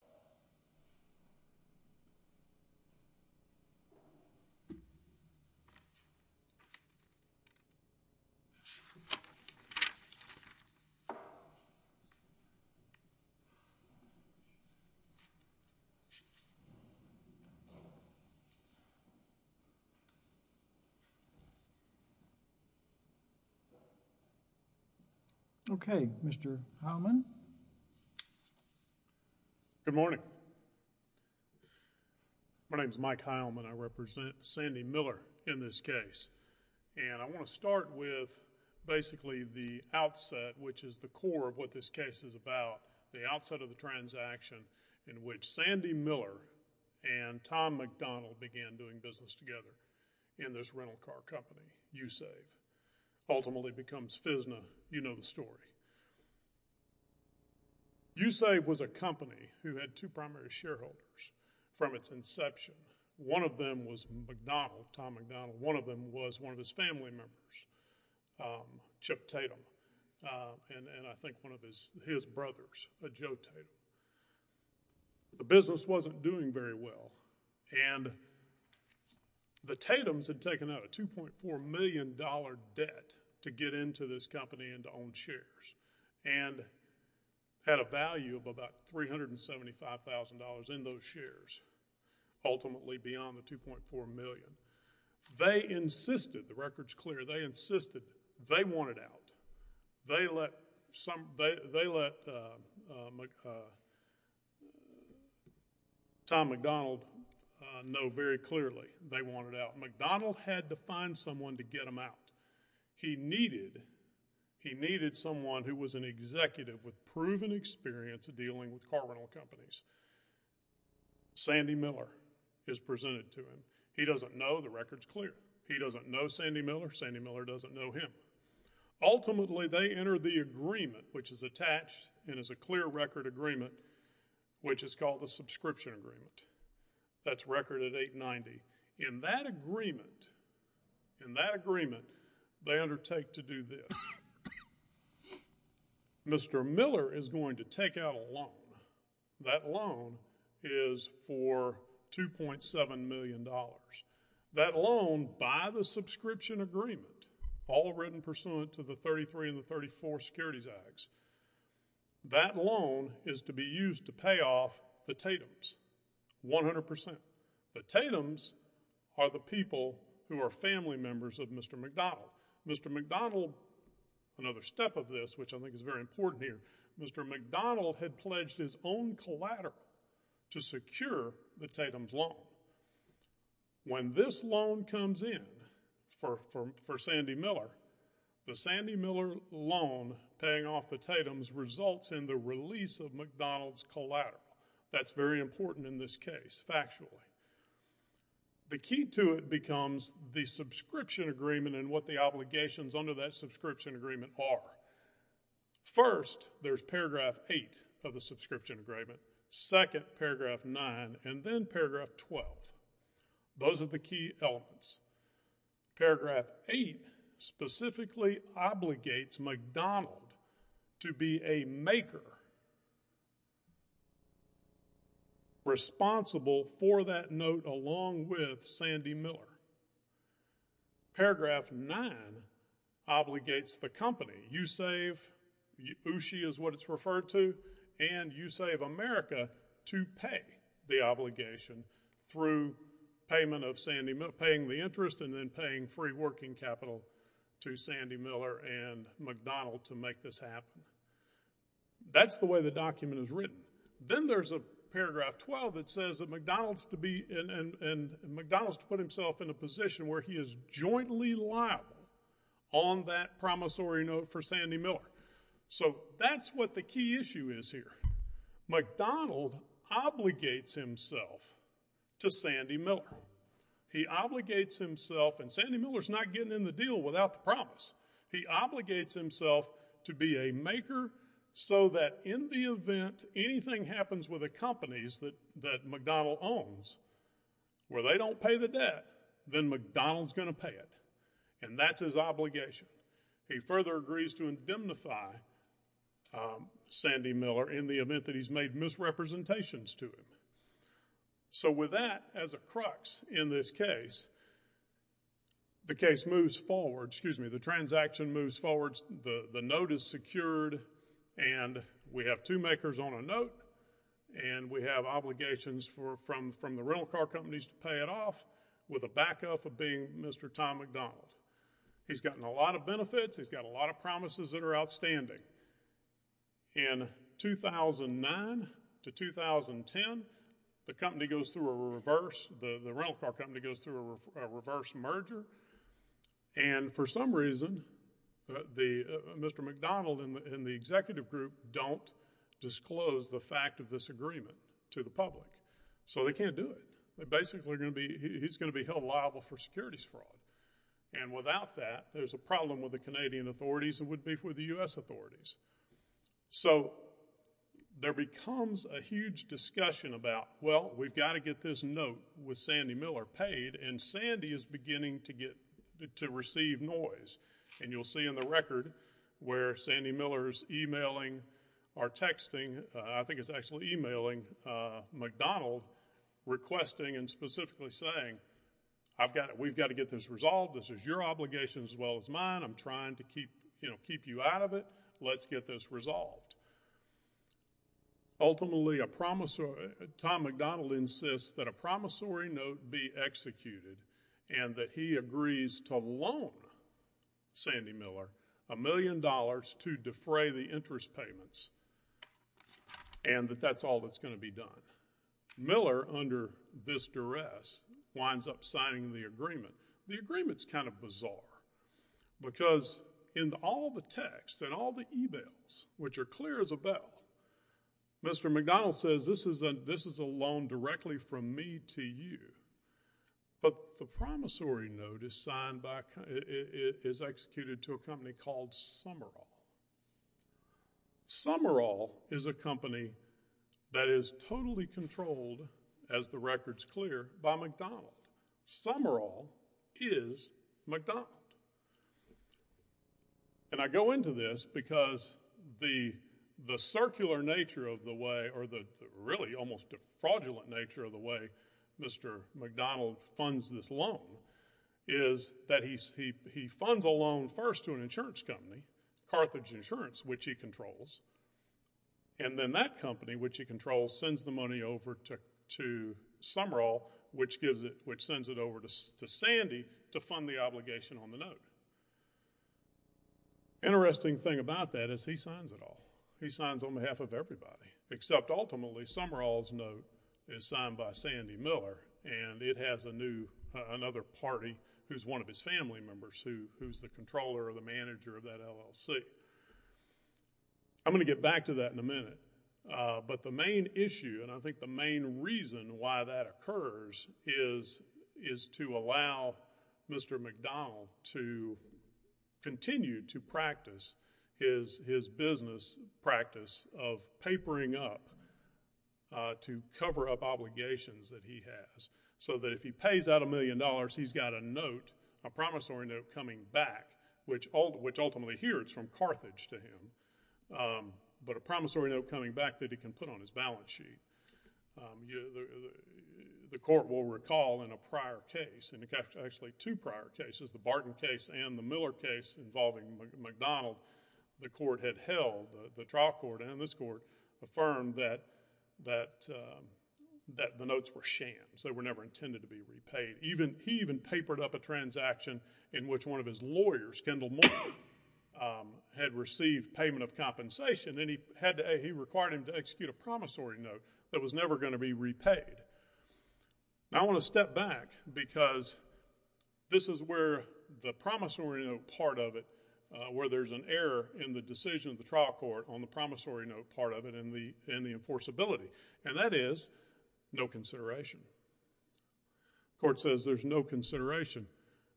Still, Carter is not guaranteed to seal the deal. Good morning. My name is Mike Heilman. I represent Sandy Miller in this case, and I want to start with basically the outset, which is the core of what this case is about, the outset of the transaction in which Sandy Miller and Tom McDonald began doing business together in this rental car company, YouSave, ultimately becomes FISNA. You know the story. YouSave was a company who had two primary shareholders from its inception. One of them was McDonald, Tom McDonald. One of them was one of his family members, Chip Tatum, and I think one of his brothers, Joe Tatum. The business wasn't doing very well, and the Tatums had taken out a 2.4 million dollar debt to get into this company and to own shares, and had a value of about $375,000 in those shares, ultimately beyond the 2.4 million. They insisted, the record's clear, they wanted out. They let Tom McDonald know very clearly they wanted out. McDonald had to find someone to get him out. He needed someone who was an executive with proven experience of dealing with car rental companies. Sandy Miller is presented to him. He doesn't know, the record's clear. He doesn't know Ultimately, they enter the agreement, which is attached and is a clear record agreement, which is called the subscription agreement. That's record at 890. In that agreement, in that agreement, they undertake to do this. Mr. Miller is going to take out a loan. That loan is for 2.7 million dollars. That loan, by the way, is equivalent to the 33 and the 34 securities acts. That loan is to be used to pay off the Tatums, 100%. The Tatums are the people who are family members of Mr. McDonald. Mr. McDonald, another step of this, which I think is very important here, Mr. McDonald had pledged his own collateral to secure the Tatums loan. When this loan comes in for Sandy Miller, the Sandy Miller loan paying off the Tatums results in the release of McDonald's collateral. That's very important in this case, factually. The key to it becomes the subscription agreement and what the obligations under that subscription agreement are. First, there's paragraph 8 of the subscription agreement. Second, paragraph 9 and then paragraph 12. Those are the key elements. Paragraph 8 specifically obligates McDonald to be a maker responsible for that note along with Sandy Miller. Paragraph 9 obligates the company, you save, Ushi is what it's referred to, and you save America to pay the obligation through payment of Sandy, paying the interest and then paying free working capital to Sandy Miller and McDonald to make this happen. That's the way the document is written. Then there's a paragraph 12 that says that McDonald's to be, and McDonald's to put himself in a position where he is jointly liable on that promissory note for Sandy Miller. So that's what the key issue is here. McDonald obligates himself to Sandy Miller. He obligates himself, and Sandy Miller's not getting in the deal without the promise. He obligates himself to be a maker so that in the event anything happens with the companies that McDonald owns, where they don't pay the debt, then McDonald's going to pay it and that's his obligation. He further agrees to indemnify Sandy Miller in the event that he's made misrepresentations to him. So with that as a crux in this case, the case moves forward, excuse me, the transaction moves forward, the note is secured, and we have two makers on a note, and we have obligations from the rental car companies to pay it off with a backup of being Mr. Tom McDonald. He's gotten a lot of benefits, he's got a lot of promises that are outstanding. In 2009 to 2010, the company goes through a reverse, the rental car company goes through a reverse merger, and for some reason, Mr. McDonald and the executive group don't disclose the fact of this agreement to the public. So they can't do it. They're basically going to be, he's going to be held liable for securities fraud, and without that, there's a problem with the Canadian authorities and with the U.S. authorities. So there becomes a huge discussion about, well, we've got to get this note with Sandy Miller paid, and Sandy is beginning to get, to receive noise. And you'll see in the record where Sandy Miller's emailing or texting, I think it's actually emailing McDonald, requesting and specifically saying, I've got, we've got to get this resolved, this is your obligation as well as mine, I'm trying to keep, you know, keep you out of it, let's get this resolved. Ultimately, a promissory, Tom McDonald insists that a promissory note be executed, and that he agrees to loan Sandy Miller a million dollars to defray the interest payments, and that that's all that's going to be done. Miller, under this duress, winds up signing the agreement. The agreement's kind of bizarre, because in all the texts and all the emails, which are clear as a bell, Mr. McDonald says, this is a loan directly from me to you. But the promissory note is signed by, is executed to a company called Summerall. Summerall is a company that is totally controlled, as the record's clear, by McDonald. Summerall is McDonald. And I go into this because the, the circular nature of the way, or the really almost fraudulent nature of the way Mr. McDonald funds this loan, is that he, he, he funds a loan first to an insurance company, Carthage Insurance, which he controls. And then that company, which he controls, sends the money over to, to Summerall, which gives it, which sends it over to, to Sandy to fund the obligation on the note. Interesting thing about that is he signs it all. He signs on behalf of everybody, except ultimately, Summerall's note is signed by Sandy Miller, and it has a new, another party who's one of his family members who, who's the controller or the manager of that LLC. I'm gonna get back to that in a minute. But the main issue, and I think the main reason why that occurs, is, is to allow Mr. McDonald to continue to practice his, his business practice of papering up, to cover up obligations that he has. So that if he pays out a million dollars, he's got a note, a promissory note coming back, which ultimately, here, it's from Carthage to him. But a promissory note coming back that he can put on his balance sheet. The, the, the court will recall in a prior case, and actually two prior cases, the Barton case and the Miller case involving McDonald, the court had held, the trial court and this court, affirmed that, that, that the court had papered up a transaction in which one of his lawyers, Kendall Moore, had received payment of compensation, and he had to, he required him to execute a promissory note that was never going to be repaid. Now I want to step back, because this is where the promissory note part of it, where there's an error in the decision of the trial court on the promissory note part of it in the, in the enforceability. And that is, no consideration. The court says there's no consideration.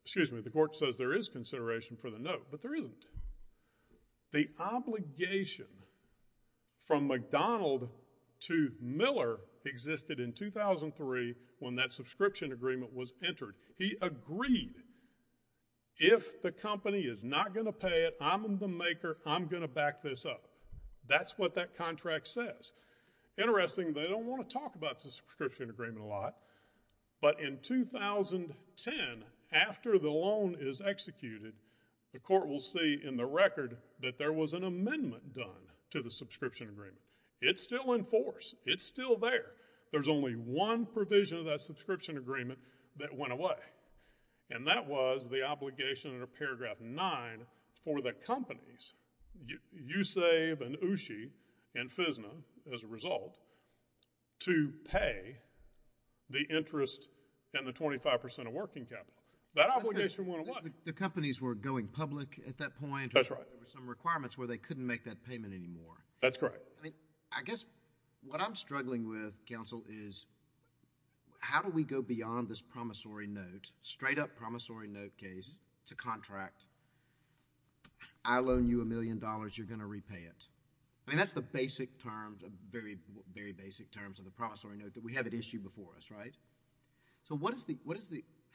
Excuse me, the court says there is consideration for the note, but there isn't. The obligation from McDonald to Miller existed in 2003 when that subscription agreement was entered. He agreed, if the company is not going to pay it, I'm the maker, I'm going to back this up. That's what that contract says. Interesting, they don't want to talk about the subscription agreement a lot. But in 2010, after the loan is executed, the court will see in the record that there was an amendment done to the subscription agreement. It's still in force. It's still there. There's only one provision of that subscription agreement that went away. And that was the obligation in paragraph 9 for the companies, Yousave and Ooshie and Ooshie, to repay the interest and the 25 percent of working capital. That obligation went away. The companies were going public at that point. That's right. There were some requirements where they couldn't make that payment anymore. That's correct. I mean, I guess what I'm struggling with, counsel, is how do we go beyond this promissory note, straight up promissory note case, it's a contract, I'll loan you a million dollars, you're going to repay it. I mean, that's the promissory note that we have at issue before us, right? So,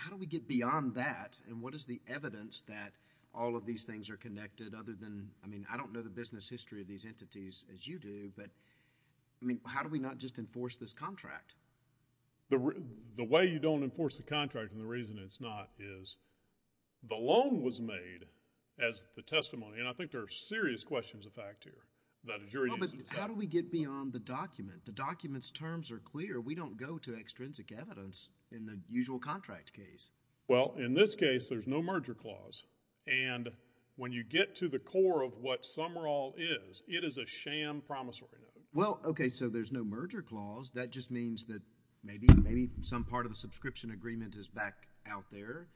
how do we get beyond that and what is the evidence that all of these things are connected other than... I mean, I don't know the business history of these entities as you do, but I mean, how do we not just enforce this contract? The way you don't enforce the contract and the reason it's not is the loan was made as the testimony, and I think there are serious questions of fact here, that a jury... No, but how do we get beyond the document? The document's terms are clear. We don't go to extrinsic evidence in the usual contract case. Well, in this case, there's no merger clause, and when you get to the core of what Sumrall is, it is a sham promissory note. Well, okay, so there's no merger clause. That just means that maybe some part of the subscription agreement is back out there,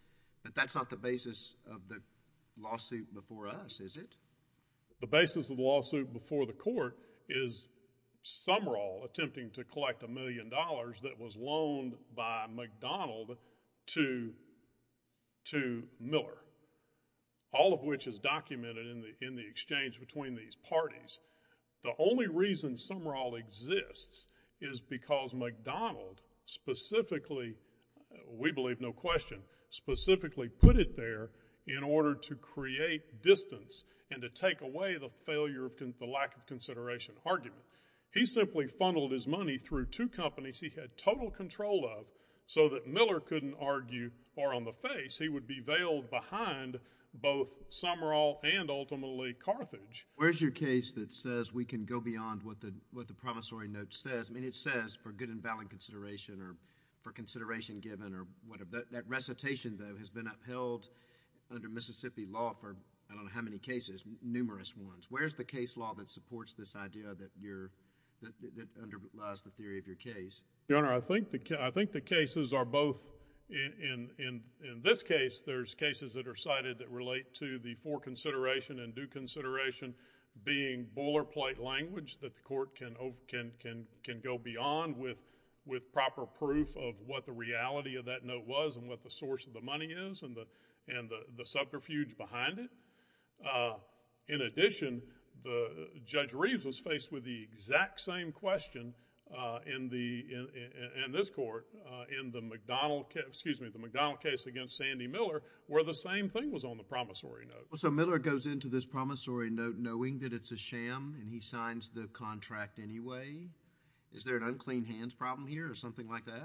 but that's not the basis of the lawsuit before us, is it? The basis of the lawsuit before the court is Sumrall attempting to collect a million dollars that was loaned by McDonald to Miller, all of which is documented in the exchange between these parties. The only reason Sumrall exists is because McDonald specifically, we believe no question, specifically put it there in order to create distance and to take away the failure of... the lack of consideration argument. He simply funneled his money through two companies he had total control of so that Miller couldn't argue far on the face. He would be veiled behind both Sumrall and ultimately Carthage. Where's your case that says we can go beyond what the promissory note says? I mean, it says for good and valid consideration or for consideration given or whatever. That recitation, though, has been upheld under many cases, numerous ones. Where's the case law that supports this idea that underlies the theory of your case? Your Honor, I think the cases are both... in this case, there's cases that are cited that relate to the for consideration and due consideration being boilerplate language that the court can go beyond with proper proof of what the reality of that note was and what the source of the money is and the subterfuge behind it. In addition, Judge Reeves was faced with the exact same question in this court in the McDonald case against Sandy Miller where the same thing was on the promissory note. So Miller goes into this promissory note knowing that it's a sham and he signs the contract anyway. Is there an unclean hands problem here or something like that?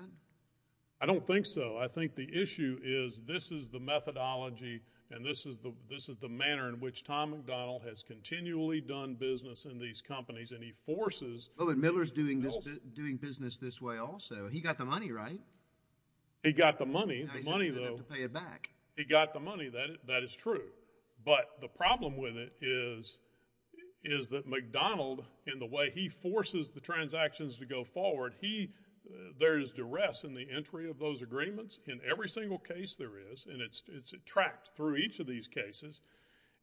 I don't think so. I think the issue is this is the methodology and this is the manner in which Tom McDonald has continually done business in these companies and he forces... But Miller's doing business this way also. He got the money, right? He got the money. The money, though... He's not going to have to pay it back. He got the money. That is true. But the problem with it is that McDonald, in the way he forces the transactions to go forward, there is duress in the entry of those agreements in every single case there is and it's tracked through each of these cases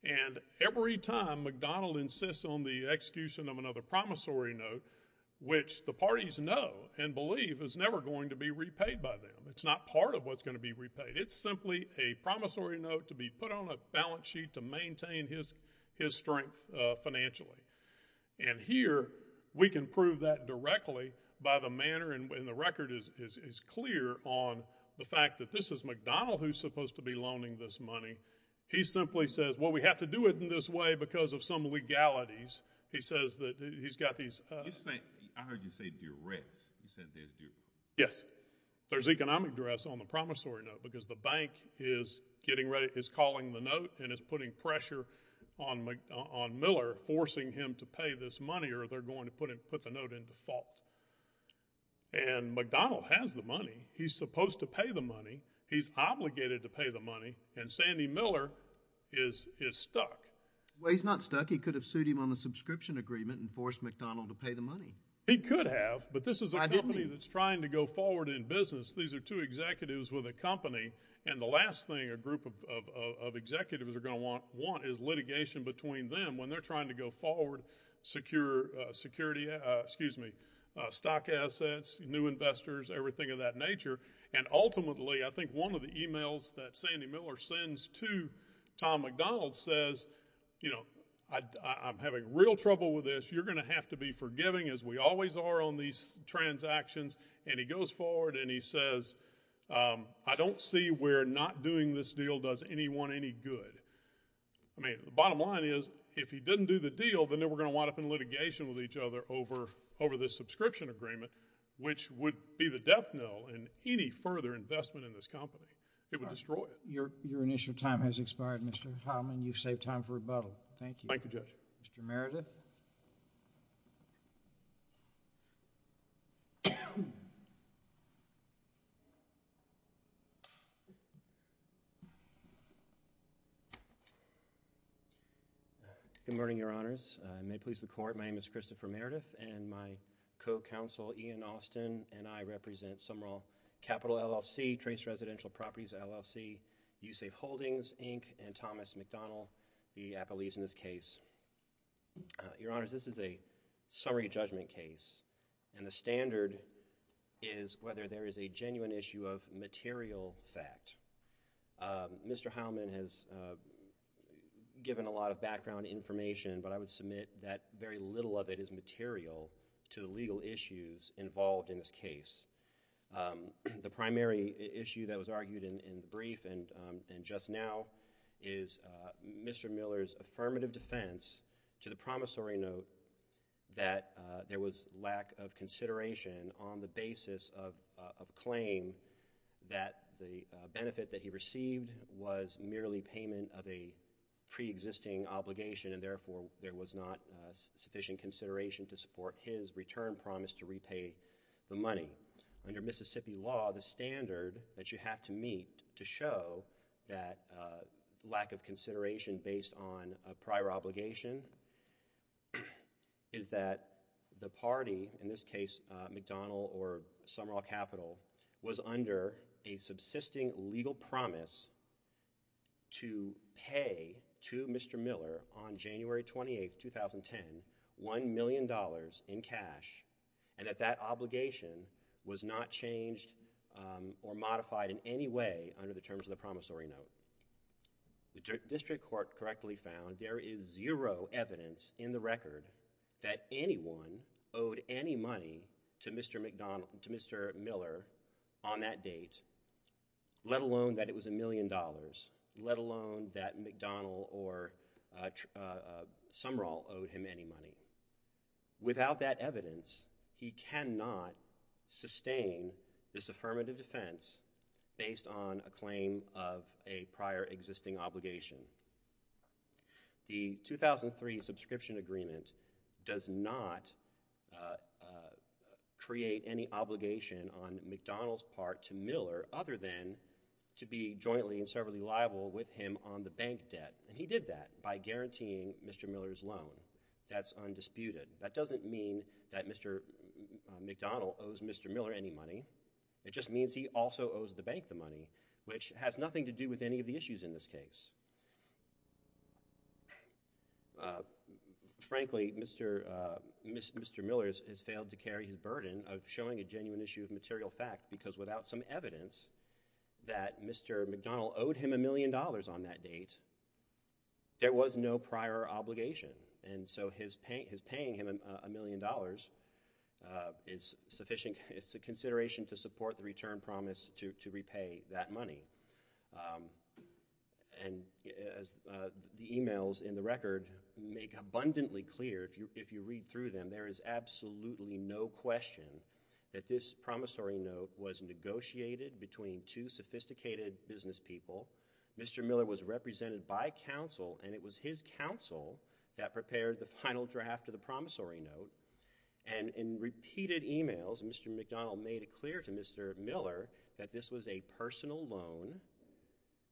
and every time McDonald insists on the execution of another promissory note, which the parties know and believe is never going to be repaid by them. It's not part of what's going to be repaid. It's simply a promissory note to be put on a balance sheet to maintain his strength financially. And here, we can prove that directly by the manner... And the record is clear on the fact that this is McDonald who's supposed to be loaning this money. He simply says, well, we have to do it in this way because of some legalities. He says that he's got these... You're saying... I heard you say duress. You said there's duress. Yes. There's economic duress on the promissory note because the bank is getting ready... is calling the note and is putting pressure on Miller, forcing him to pay this money or they're going to put the note into fault. And McDonald has the money. He's supposed to pay the money. He's obligated to pay the money and Sandy Miller is stuck. Well, he's not stuck. He could have sued him on the subscription agreement and forced McDonald to pay the money. He could have, but this is a company that's trying to go forward in business. These are two executives with a company and the last thing a group of executives are going to want is litigation between them when they're trying to go forward, stock assets, new investors, everything of that nature. And ultimately, I think one of the emails that Sandy Miller sends to Tom McDonald says, I'm having real trouble with this. You're going to have to be forgiving as we always are on these transactions. And he goes forward and he says, I don't see where not doing this deal does anyone any good. I mean, the bottom line is, if he didn't do the deal, then they were going to wind up in litigation with each other over this subscription agreement, which would be the death knell in any further investment in this company. It would destroy it. Your initial time has expired, Mr. Heilman. You've saved time for rebuttal. Thank you. Thank you, Judge. Mr. Meredith. Good morning, Your Honors. May it please the Court, my name is Christopher Meredith, and my co-counsel, Ian Austin, and I represent Sumrall Capital, LLC, Trace Residential Properties, LLC, USApe Holdings, Inc., and Thomas McDonald, the appellees in this case. Your Honors, this is a summary judgment case, and the standard is whether there is a genuine issue of material fact. Mr. Heilman has given a lot of background information, but I would submit that very little of it is material to the legal issues involved in this case. The primary issue that was argued in the brief and just now is Mr. Miller's affirmative defense to the promissory note that there was lack of consideration on the basis of claim that the benefit that he received was merely payment of a preexisting obligation, and therefore, there was not sufficient consideration to support his return promise to repay the money. Under Mississippi law, the standard that you have to meet to show that lack of consideration based on a prior obligation is that the party, in this case, McDonald or Sumrall Capital, was under a subsisting legal promise to pay to Mr. Miller on January 28, 2010, $1 million in cash, and that that obligation was not changed or modified in any way under the terms of the promissory note. The district court correctly found there is zero evidence in the record that anyone owed any money to Mr. Miller on that date, let alone that it was $1 million, let alone that McDonald or Sumrall sustained this affirmative defense based on a claim of a prior existing obligation. The 2003 subscription agreement does not create any obligation on McDonald's part to Miller other than to be jointly and severally liable with him on the bank debt, and he did that by guaranteeing Mr. Miller's loan. That's undisputed. That doesn't mean that Mr. McDonald owes Mr. Miller any money. It just means he also owes the bank the money, which has nothing to do with any of the issues in this case. Frankly, Mr. Miller has failed to carry his burden of showing a genuine issue of material fact because without some evidence that Mr. McDonald owed him $1 million on that date, there was no prior obligation, and so his paying him $1 million is sufficient. It's a consideration to support the return promise to repay that money, and as the emails in the record make abundantly clear if you read through them, there is absolutely no question that this promissory note was negotiated between two sophisticated business people. Mr. Miller was represented by counsel, and it was his counsel that prepared the final draft of the promissory note, and in repeated emails, Mr. McDonald made it clear to Mr. Miller that this was a personal loan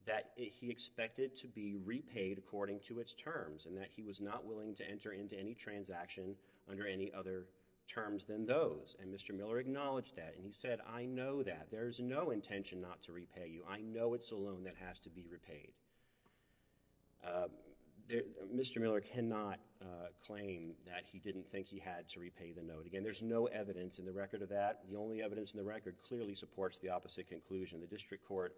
that he expected to be repaid according to its terms and that he was not willing to enter into any transaction under any other terms than those, and Mr. Miller acknowledged that, and he said, I know that. There's no intention not to repay you. I know it's a loan that has to be repaid. Mr. Miller cannot claim that he didn't think he had to repay the note. Again, there's no evidence in the record of that. The only evidence in the record clearly supports the opposite conclusion. The district court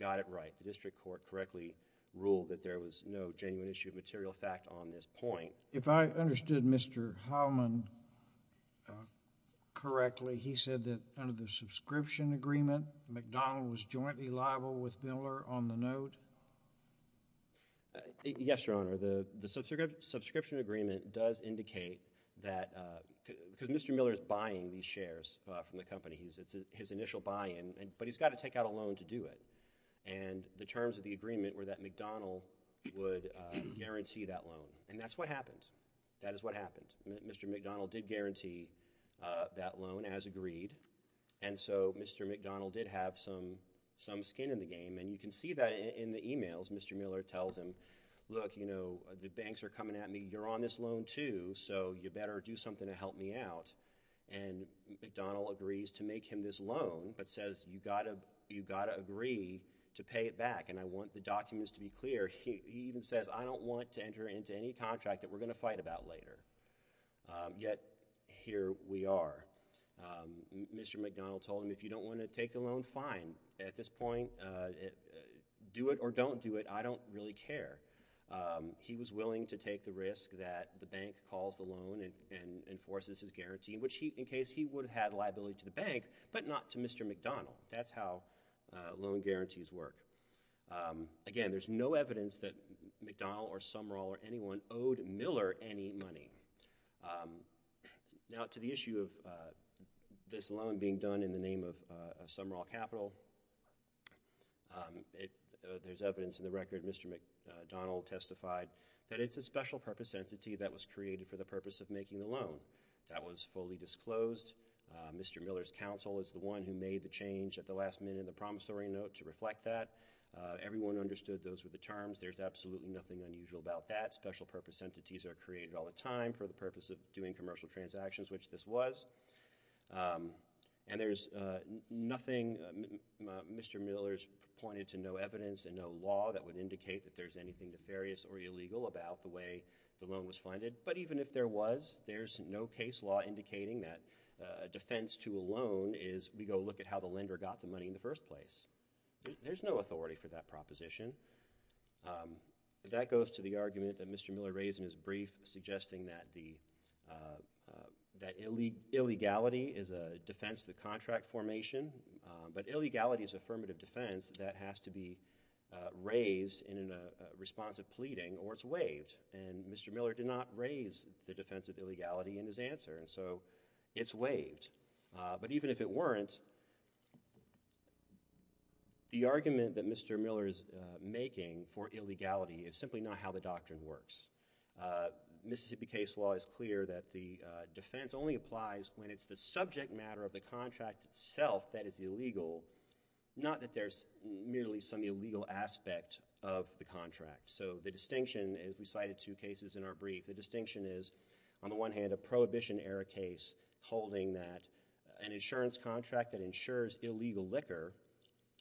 got it right. The district court correctly ruled that there was no genuine issue of material fact on this point. If I understood Mr. Heilman correctly, he said that under the subscription agreement, McDonald was jointly liable with Miller on the note? Yes, Your Honor. The subscription agreement does indicate that, because Mr. Miller is buying these shares from the company, his initial buy-in, but he's got to take out a loan to do it, and the terms of agreement were that McDonald would guarantee that loan, and that's what happened. That is what happened. Mr. McDonald did guarantee that loan as agreed, and so Mr. McDonald did have some skin in the game, and you can see that in the e-mails. Mr. Miller tells him, look, you know, the banks are coming at me. You're on this loan, too, so you better do something to help me out, and McDonald agrees to make him this loan, but says, you've got to agree to pay it back, and I want the documents to be clear. He even says, I don't want to enter into any contract that we're going to fight about later, yet here we are. Mr. McDonald told him, if you don't want to take the loan, fine. At this point, do it or don't do it. I don't really care. He was willing to take the risk that the bank calls the loan and enforces his guarantee, in case he would have had liability to the bank, but not to Mr. McDonald. That's how loan guarantees work. Again, there's no evidence that McDonald or Sumrall or anyone owed Miller any money. Now, to the issue of this loan being done in the name of Sumrall Capital, there's evidence in the record. Mr. McDonald testified that it's a special purpose entity that was created for the purpose of making the loan. That was fully disclosed. Mr. Miller's counsel is the one who made the change at the last minute in the promissory note to reflect that. Everyone understood those were the terms. There's absolutely nothing unusual about that. Special purpose entities are created all the time for the purpose of doing commercial transactions, which this was, and there's nothing Mr. Miller's pointed to, no evidence and no law that would indicate that there's anything nefarious or illegal about the way the loan was funded. Even if there was, there's no case law indicating that a defense to a loan is we go look at how the lender got the money in the first place. There's no authority for that proposition. That goes to the argument that Mr. Miller raised in his brief suggesting that illegality is a defense of the contract formation, but illegality is affirmative defense that has to be raised in a response of pleading or it's waived. Mr. Miller did not raise the defense of illegality in his answer, so it's waived, but even if it weren't, the argument that Mr. Miller is making for illegality is simply not how the doctrine works. Mississippi case law is clear that the defense only applies when it's the subject matter of the contract itself that is illegal, not that there's merely some illegal aspect of the contract. The distinction, as we cited two cases in our brief, the distinction is on the one hand a Prohibition-era case holding that an insurance contract that insures illegal liquor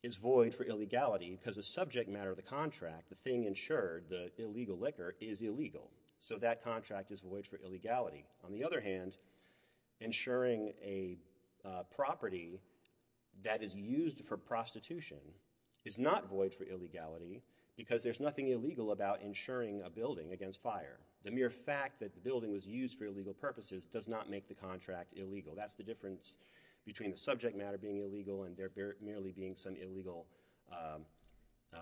is void for illegality because the subject matter of the contract, the thing insured, the illegal liquor is illegal, so that contract is void for illegality. On the other hand, insuring a property that is used for prostitution is not void for illegality because there's nothing illegal about insuring a building against fire. The mere fact that the building was used for illegal purposes does not make the contract illegal. That's the difference between the subject matter being illegal and there merely being some illegal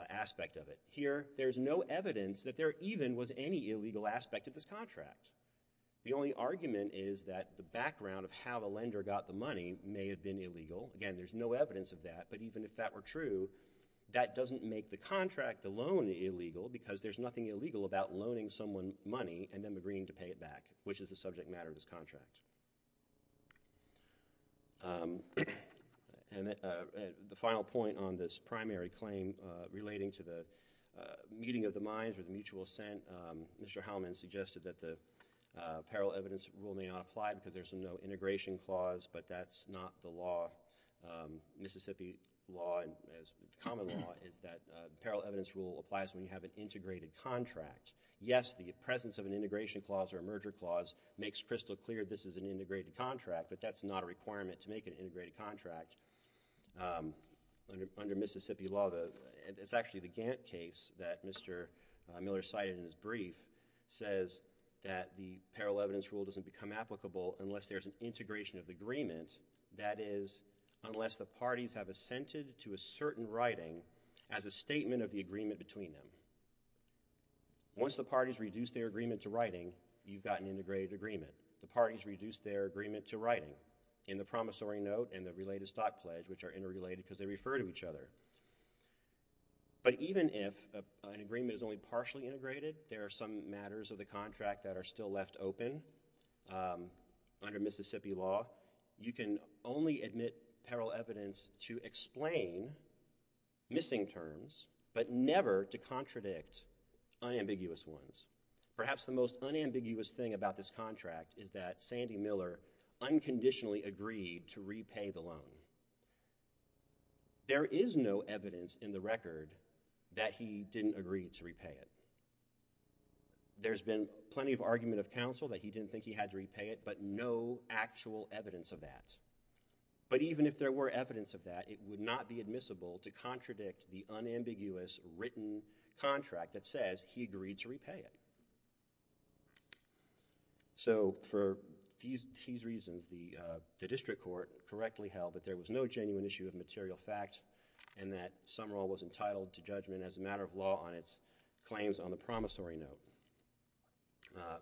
aspect of it. Here, there's no evidence that there even was any illegal aspect of this contract. The only argument is that the background of how the lender got the money may have been illegal. Again, there's no evidence of that, but even if that were true, that doesn't make the contract alone illegal because there's nothing illegal about loaning someone money and then agreeing to pay it back, which is the subject matter of this contract. And the final point on this primary claim relating to the meeting of the minds or the mutual assent, Mr. Hellman suggested that the apparel evidence rule may not apply because there's no integration clause, but that's not the law. Mississippi common law is that apparel evidence rule applies when you have an integrated contract. Yes, the presence of an integration clause or a merger clause makes crystal clear this is an integrated contract, but that's not a requirement to make an integrated contract. Under Mississippi law, it's actually the Gantt case that Mr. Miller cited in his brief says that the apparel evidence rule doesn't become applicable unless there's an integration of the agreement. That is, unless the parties have assented to a certain writing as a statement of the agreement between them. Once the parties reduce their agreement to writing, you've got an integrated agreement. The parties reduce their agreement to writing in the promissory note and the related stock pledge, which are interrelated because they refer to each other. But even if an agreement is only partially integrated, there are some matters of the only admit apparel evidence to explain missing terms, but never to contradict unambiguous ones. Perhaps the most unambiguous thing about this contract is that Sandy Miller unconditionally agreed to repay the loan. There is no evidence in the record that he didn't agree to repay it. There's been plenty of argument of counsel that he didn't think he had to repay it, but no actual evidence of that. But even if there were evidence of that, it would not be admissible to contradict the unambiguous written contract that says he agreed to repay it. So, for these reasons, the district court correctly held that there was no genuine issue of material fact and that Sumrall was entitled to judgment as a matter of law on its claims on the promissory note.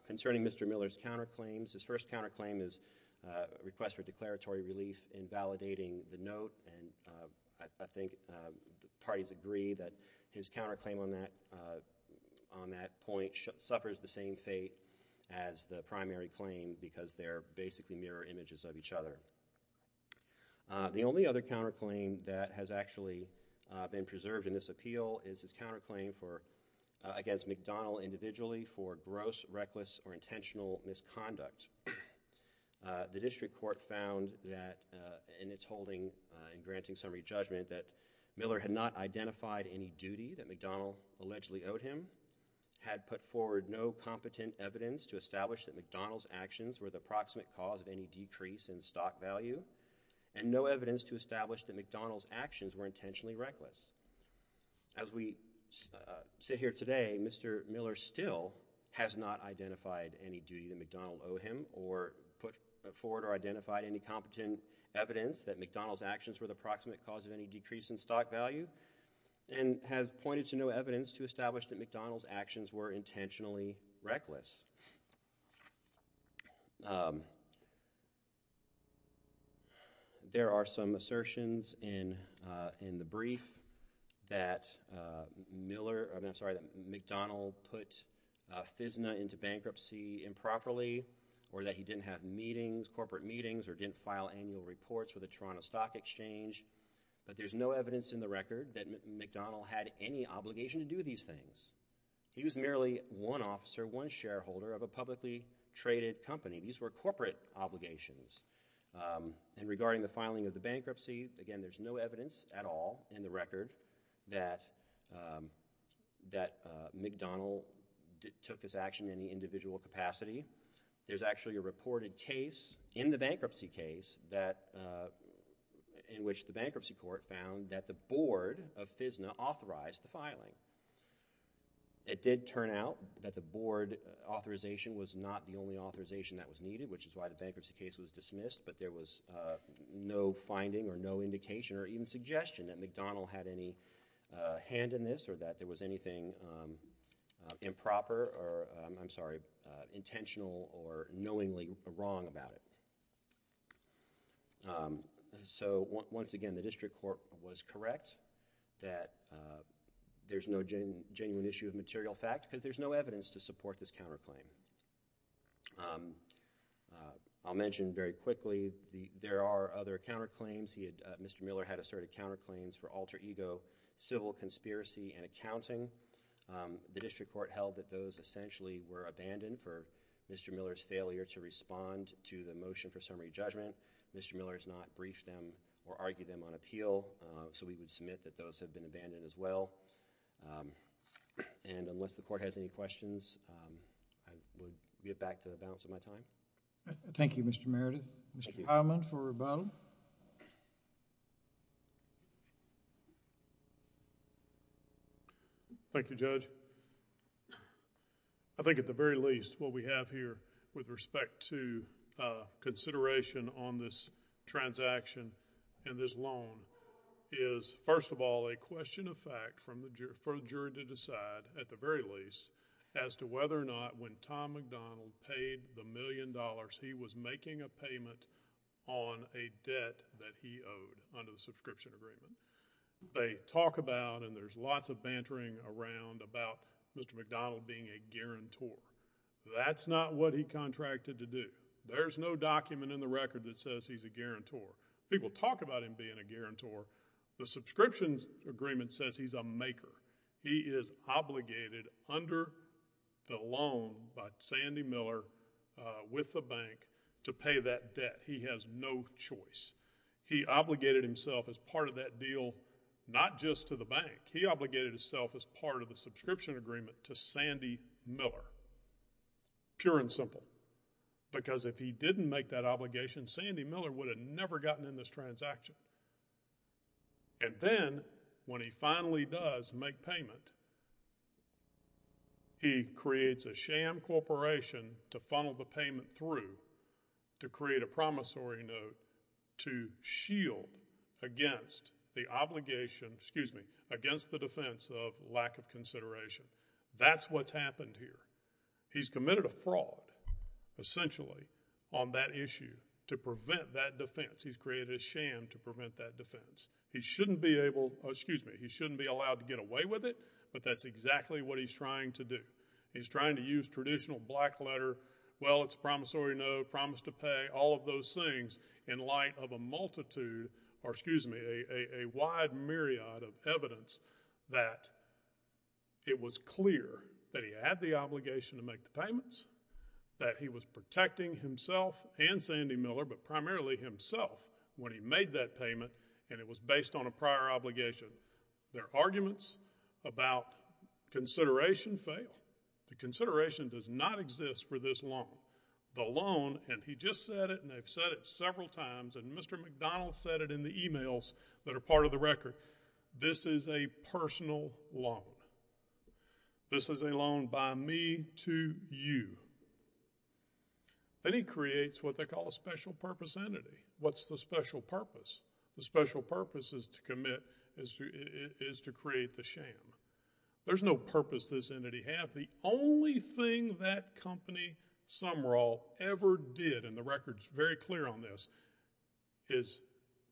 Concerning Mr. Miller's counterclaims, his first counterclaim is a request for declaratory relief invalidating the note, and I think parties agree that his counterclaim on that point suffers the same fate as the primary claim because they're basically mirror images of each other. The only other counterclaim that has actually been preserved in this appeal is his counterclaim against McDonnell individually for gross, reckless, or intentional misconduct. The district court found that in its holding in granting summary judgment that Miller had not identified any duty that McDonnell allegedly owed him, had put forward no competent evidence to establish that McDonnell's actions were the proximate cause of any decrease in stock value, and no evidence to establish that McDonnell's actions were intentionally reckless. As we sit here today, Mr. Miller still has not identified any duty that McDonnell owed him or put forward or identified any competent evidence that McDonnell's actions were the proximate cause of any decrease in stock value, and has pointed to no evidence to establish that McDonnell's actions were intentionally reckless. There are some assertions in the brief that Miller, I'm sorry, that McDonnell put FISNA into bankruptcy improperly or that he didn't have meetings, corporate meetings, or didn't file annual reports with the Toronto Stock Exchange, but there's no evidence in the record that McDonnell had any obligation to do these things. He was merely one officer, one shareholder of a publicly traded company. These were corporate obligations, and regarding the filing of the bankruptcy, again, there's no evidence at all in the record that McDonnell took this action in any individual capacity. There's actually a reported case in the bankruptcy case in which the bankruptcy court found that the board of FISNA authorized the filing. It did turn out that the board authorization was not the only authorization that was needed, which is why the bankruptcy case was dismissed, but there was no finding or no indication or even suggestion that McDonnell had any hand in this or that there was anything improper or, I'm sorry, intentional or knowingly wrong about it. So once again, the district court was correct that there's no genuine issue of material fact because there's no evidence to support this counterclaim. I'll mention very quickly there are other counterclaims. Mr. Miller had asserted counterclaims for alter ego, civil conspiracy, and accounting. The district court held that those essentially were abandoned for Mr. Miller's failure to respond to the motion for summary judgment. Mr. Miller has not briefed them or argued them on appeal, so we would submit that those have been abandoned as well. And unless the court has any questions, I will get back to the balance of my time. Thank you, Mr. Meredith. Mr. Hyman for rebuttal. Thank you, Judge. I think at the very least what we have here with respect to consideration on this transaction and this loan is, first of all, a question of fact for the juror to decide at the very least as to whether or not when Tom McDonald paid the million dollars he was making a payment on a debt that he owed under the subscription agreement. They talk about and there's lots of bantering around about Mr. McDonald being a guarantor. That's not what he contracted to do. There's no document in the record that says he's a guarantor. People talk about him being a guarantor. The subscription agreement says he's a maker. He is obligated under the loan by Sandy Miller with the bank to pay that debt. He has no choice. He obligated himself as part of that deal not just to the bank. He obligated himself as part of the subscription agreement to Sandy Miller. Pure and simple. Because if he didn't make that obligation, Sandy Miller would have never gotten in this transaction. And then when he finally does make payment, he creates a sham corporation to funnel the payment through to create a promissory note to shield against the obligation, excuse me, against the defense of lack of consideration. That's what's happened here. He's committed a fraud essentially on that issue to prevent that defense. He's created a sham to prevent that defense. He shouldn't be able, excuse me, he shouldn't be allowed to get away with it, but that's exactly what he's trying to do. He's trying to use traditional black letter, well it's a promissory note, promise to pay, all of those things in light of a multitude, or excuse me, a wide myriad of evidence that it was clear that he had the obligation to make the payments, that he was protecting himself and Sandy Miller, but primarily himself when he made that payment and it was based on a prior obligation. Their arguments about consideration fail. The consideration does not exist for this loan. The loan, and he just said it and they've said it several times, and Mr. McDonald said it in the emails that are part of the record, this is a personal loan. This is a loan by me to you. Then he creates what they call a special purpose entity. What's the special purpose? The special purpose is to commit, is to create the sham. There's no purpose this entity had. The only thing that company, Sumrall, ever did, and the record's very clear on this, is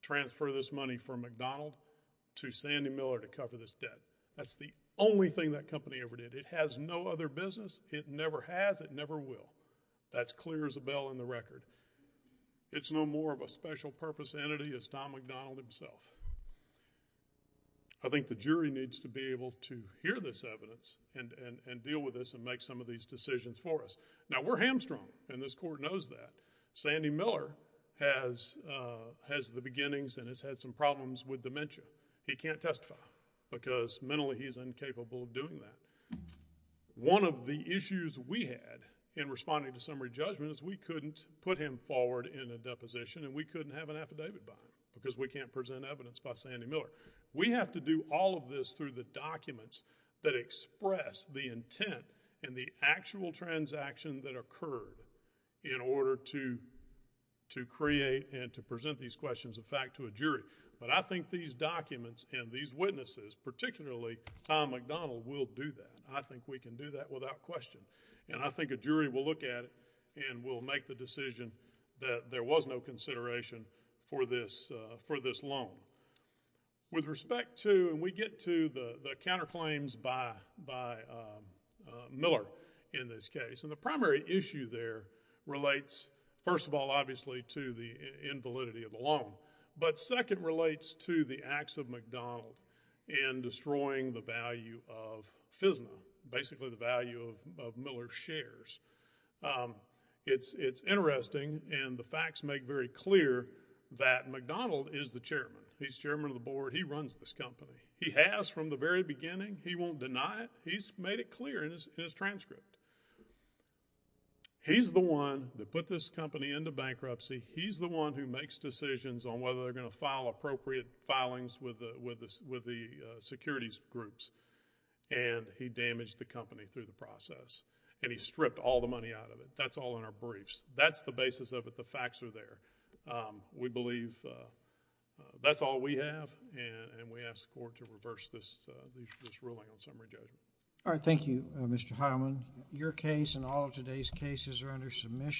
transfer this money from McDonald to Sandy Miller to cover this debt. That's the only thing that company ever did. It has no other business. It never has, it never will. That's clear as a bell in the record. It's no more of a special purpose entity as Tom McDonald himself. I think the jury needs to be able to hear this evidence and deal with this and make some of these decisions for us. Now, we're hamstrung and this court knows that. Sandy Miller has the beginnings and has had some problems with dementia. He can't testify because mentally he's incapable of doing that. One of the issues we had in responding to summary judgment is we couldn't put him forward in a deposition and we couldn't have an affidavit by him because we can't present evidence by Sandy Miller. We have to do all of this through the documents that express the intent and the actual transaction that occurred in order to create and to present these questions of fact to a jury. But I think these documents and these witnesses, particularly Tom McDonald, will do that. I think we can do that without question. And I think a jury will look at it and will make the decision that there was no consideration for this loan. With respect to, and we get to the counterclaims by Miller in this case. And the primary issue there relates, first of all, obviously, to the invalidity of the loan. But second relates to the acts of McDonald. And destroying the value of FISNA. Basically the value of Miller's shares. It's interesting and the facts make very clear that McDonald is the chairman. He's chairman of the board. He runs this company. He has from the very beginning. He won't deny it. He's made it clear in his transcript. He's the one that put this company into bankruptcy. He's the one who makes decisions on whether they're going to file appropriate filings with the securities groups. And he damaged the company through the process. And he stripped all the money out of it. That's all in our briefs. That's the basis of it. The facts are there. We believe that's all we have. And we ask the court to reverse this ruling on summary judgment. All right. Thank you, Mr. Hyman. Your case and all of today's cases are under submission.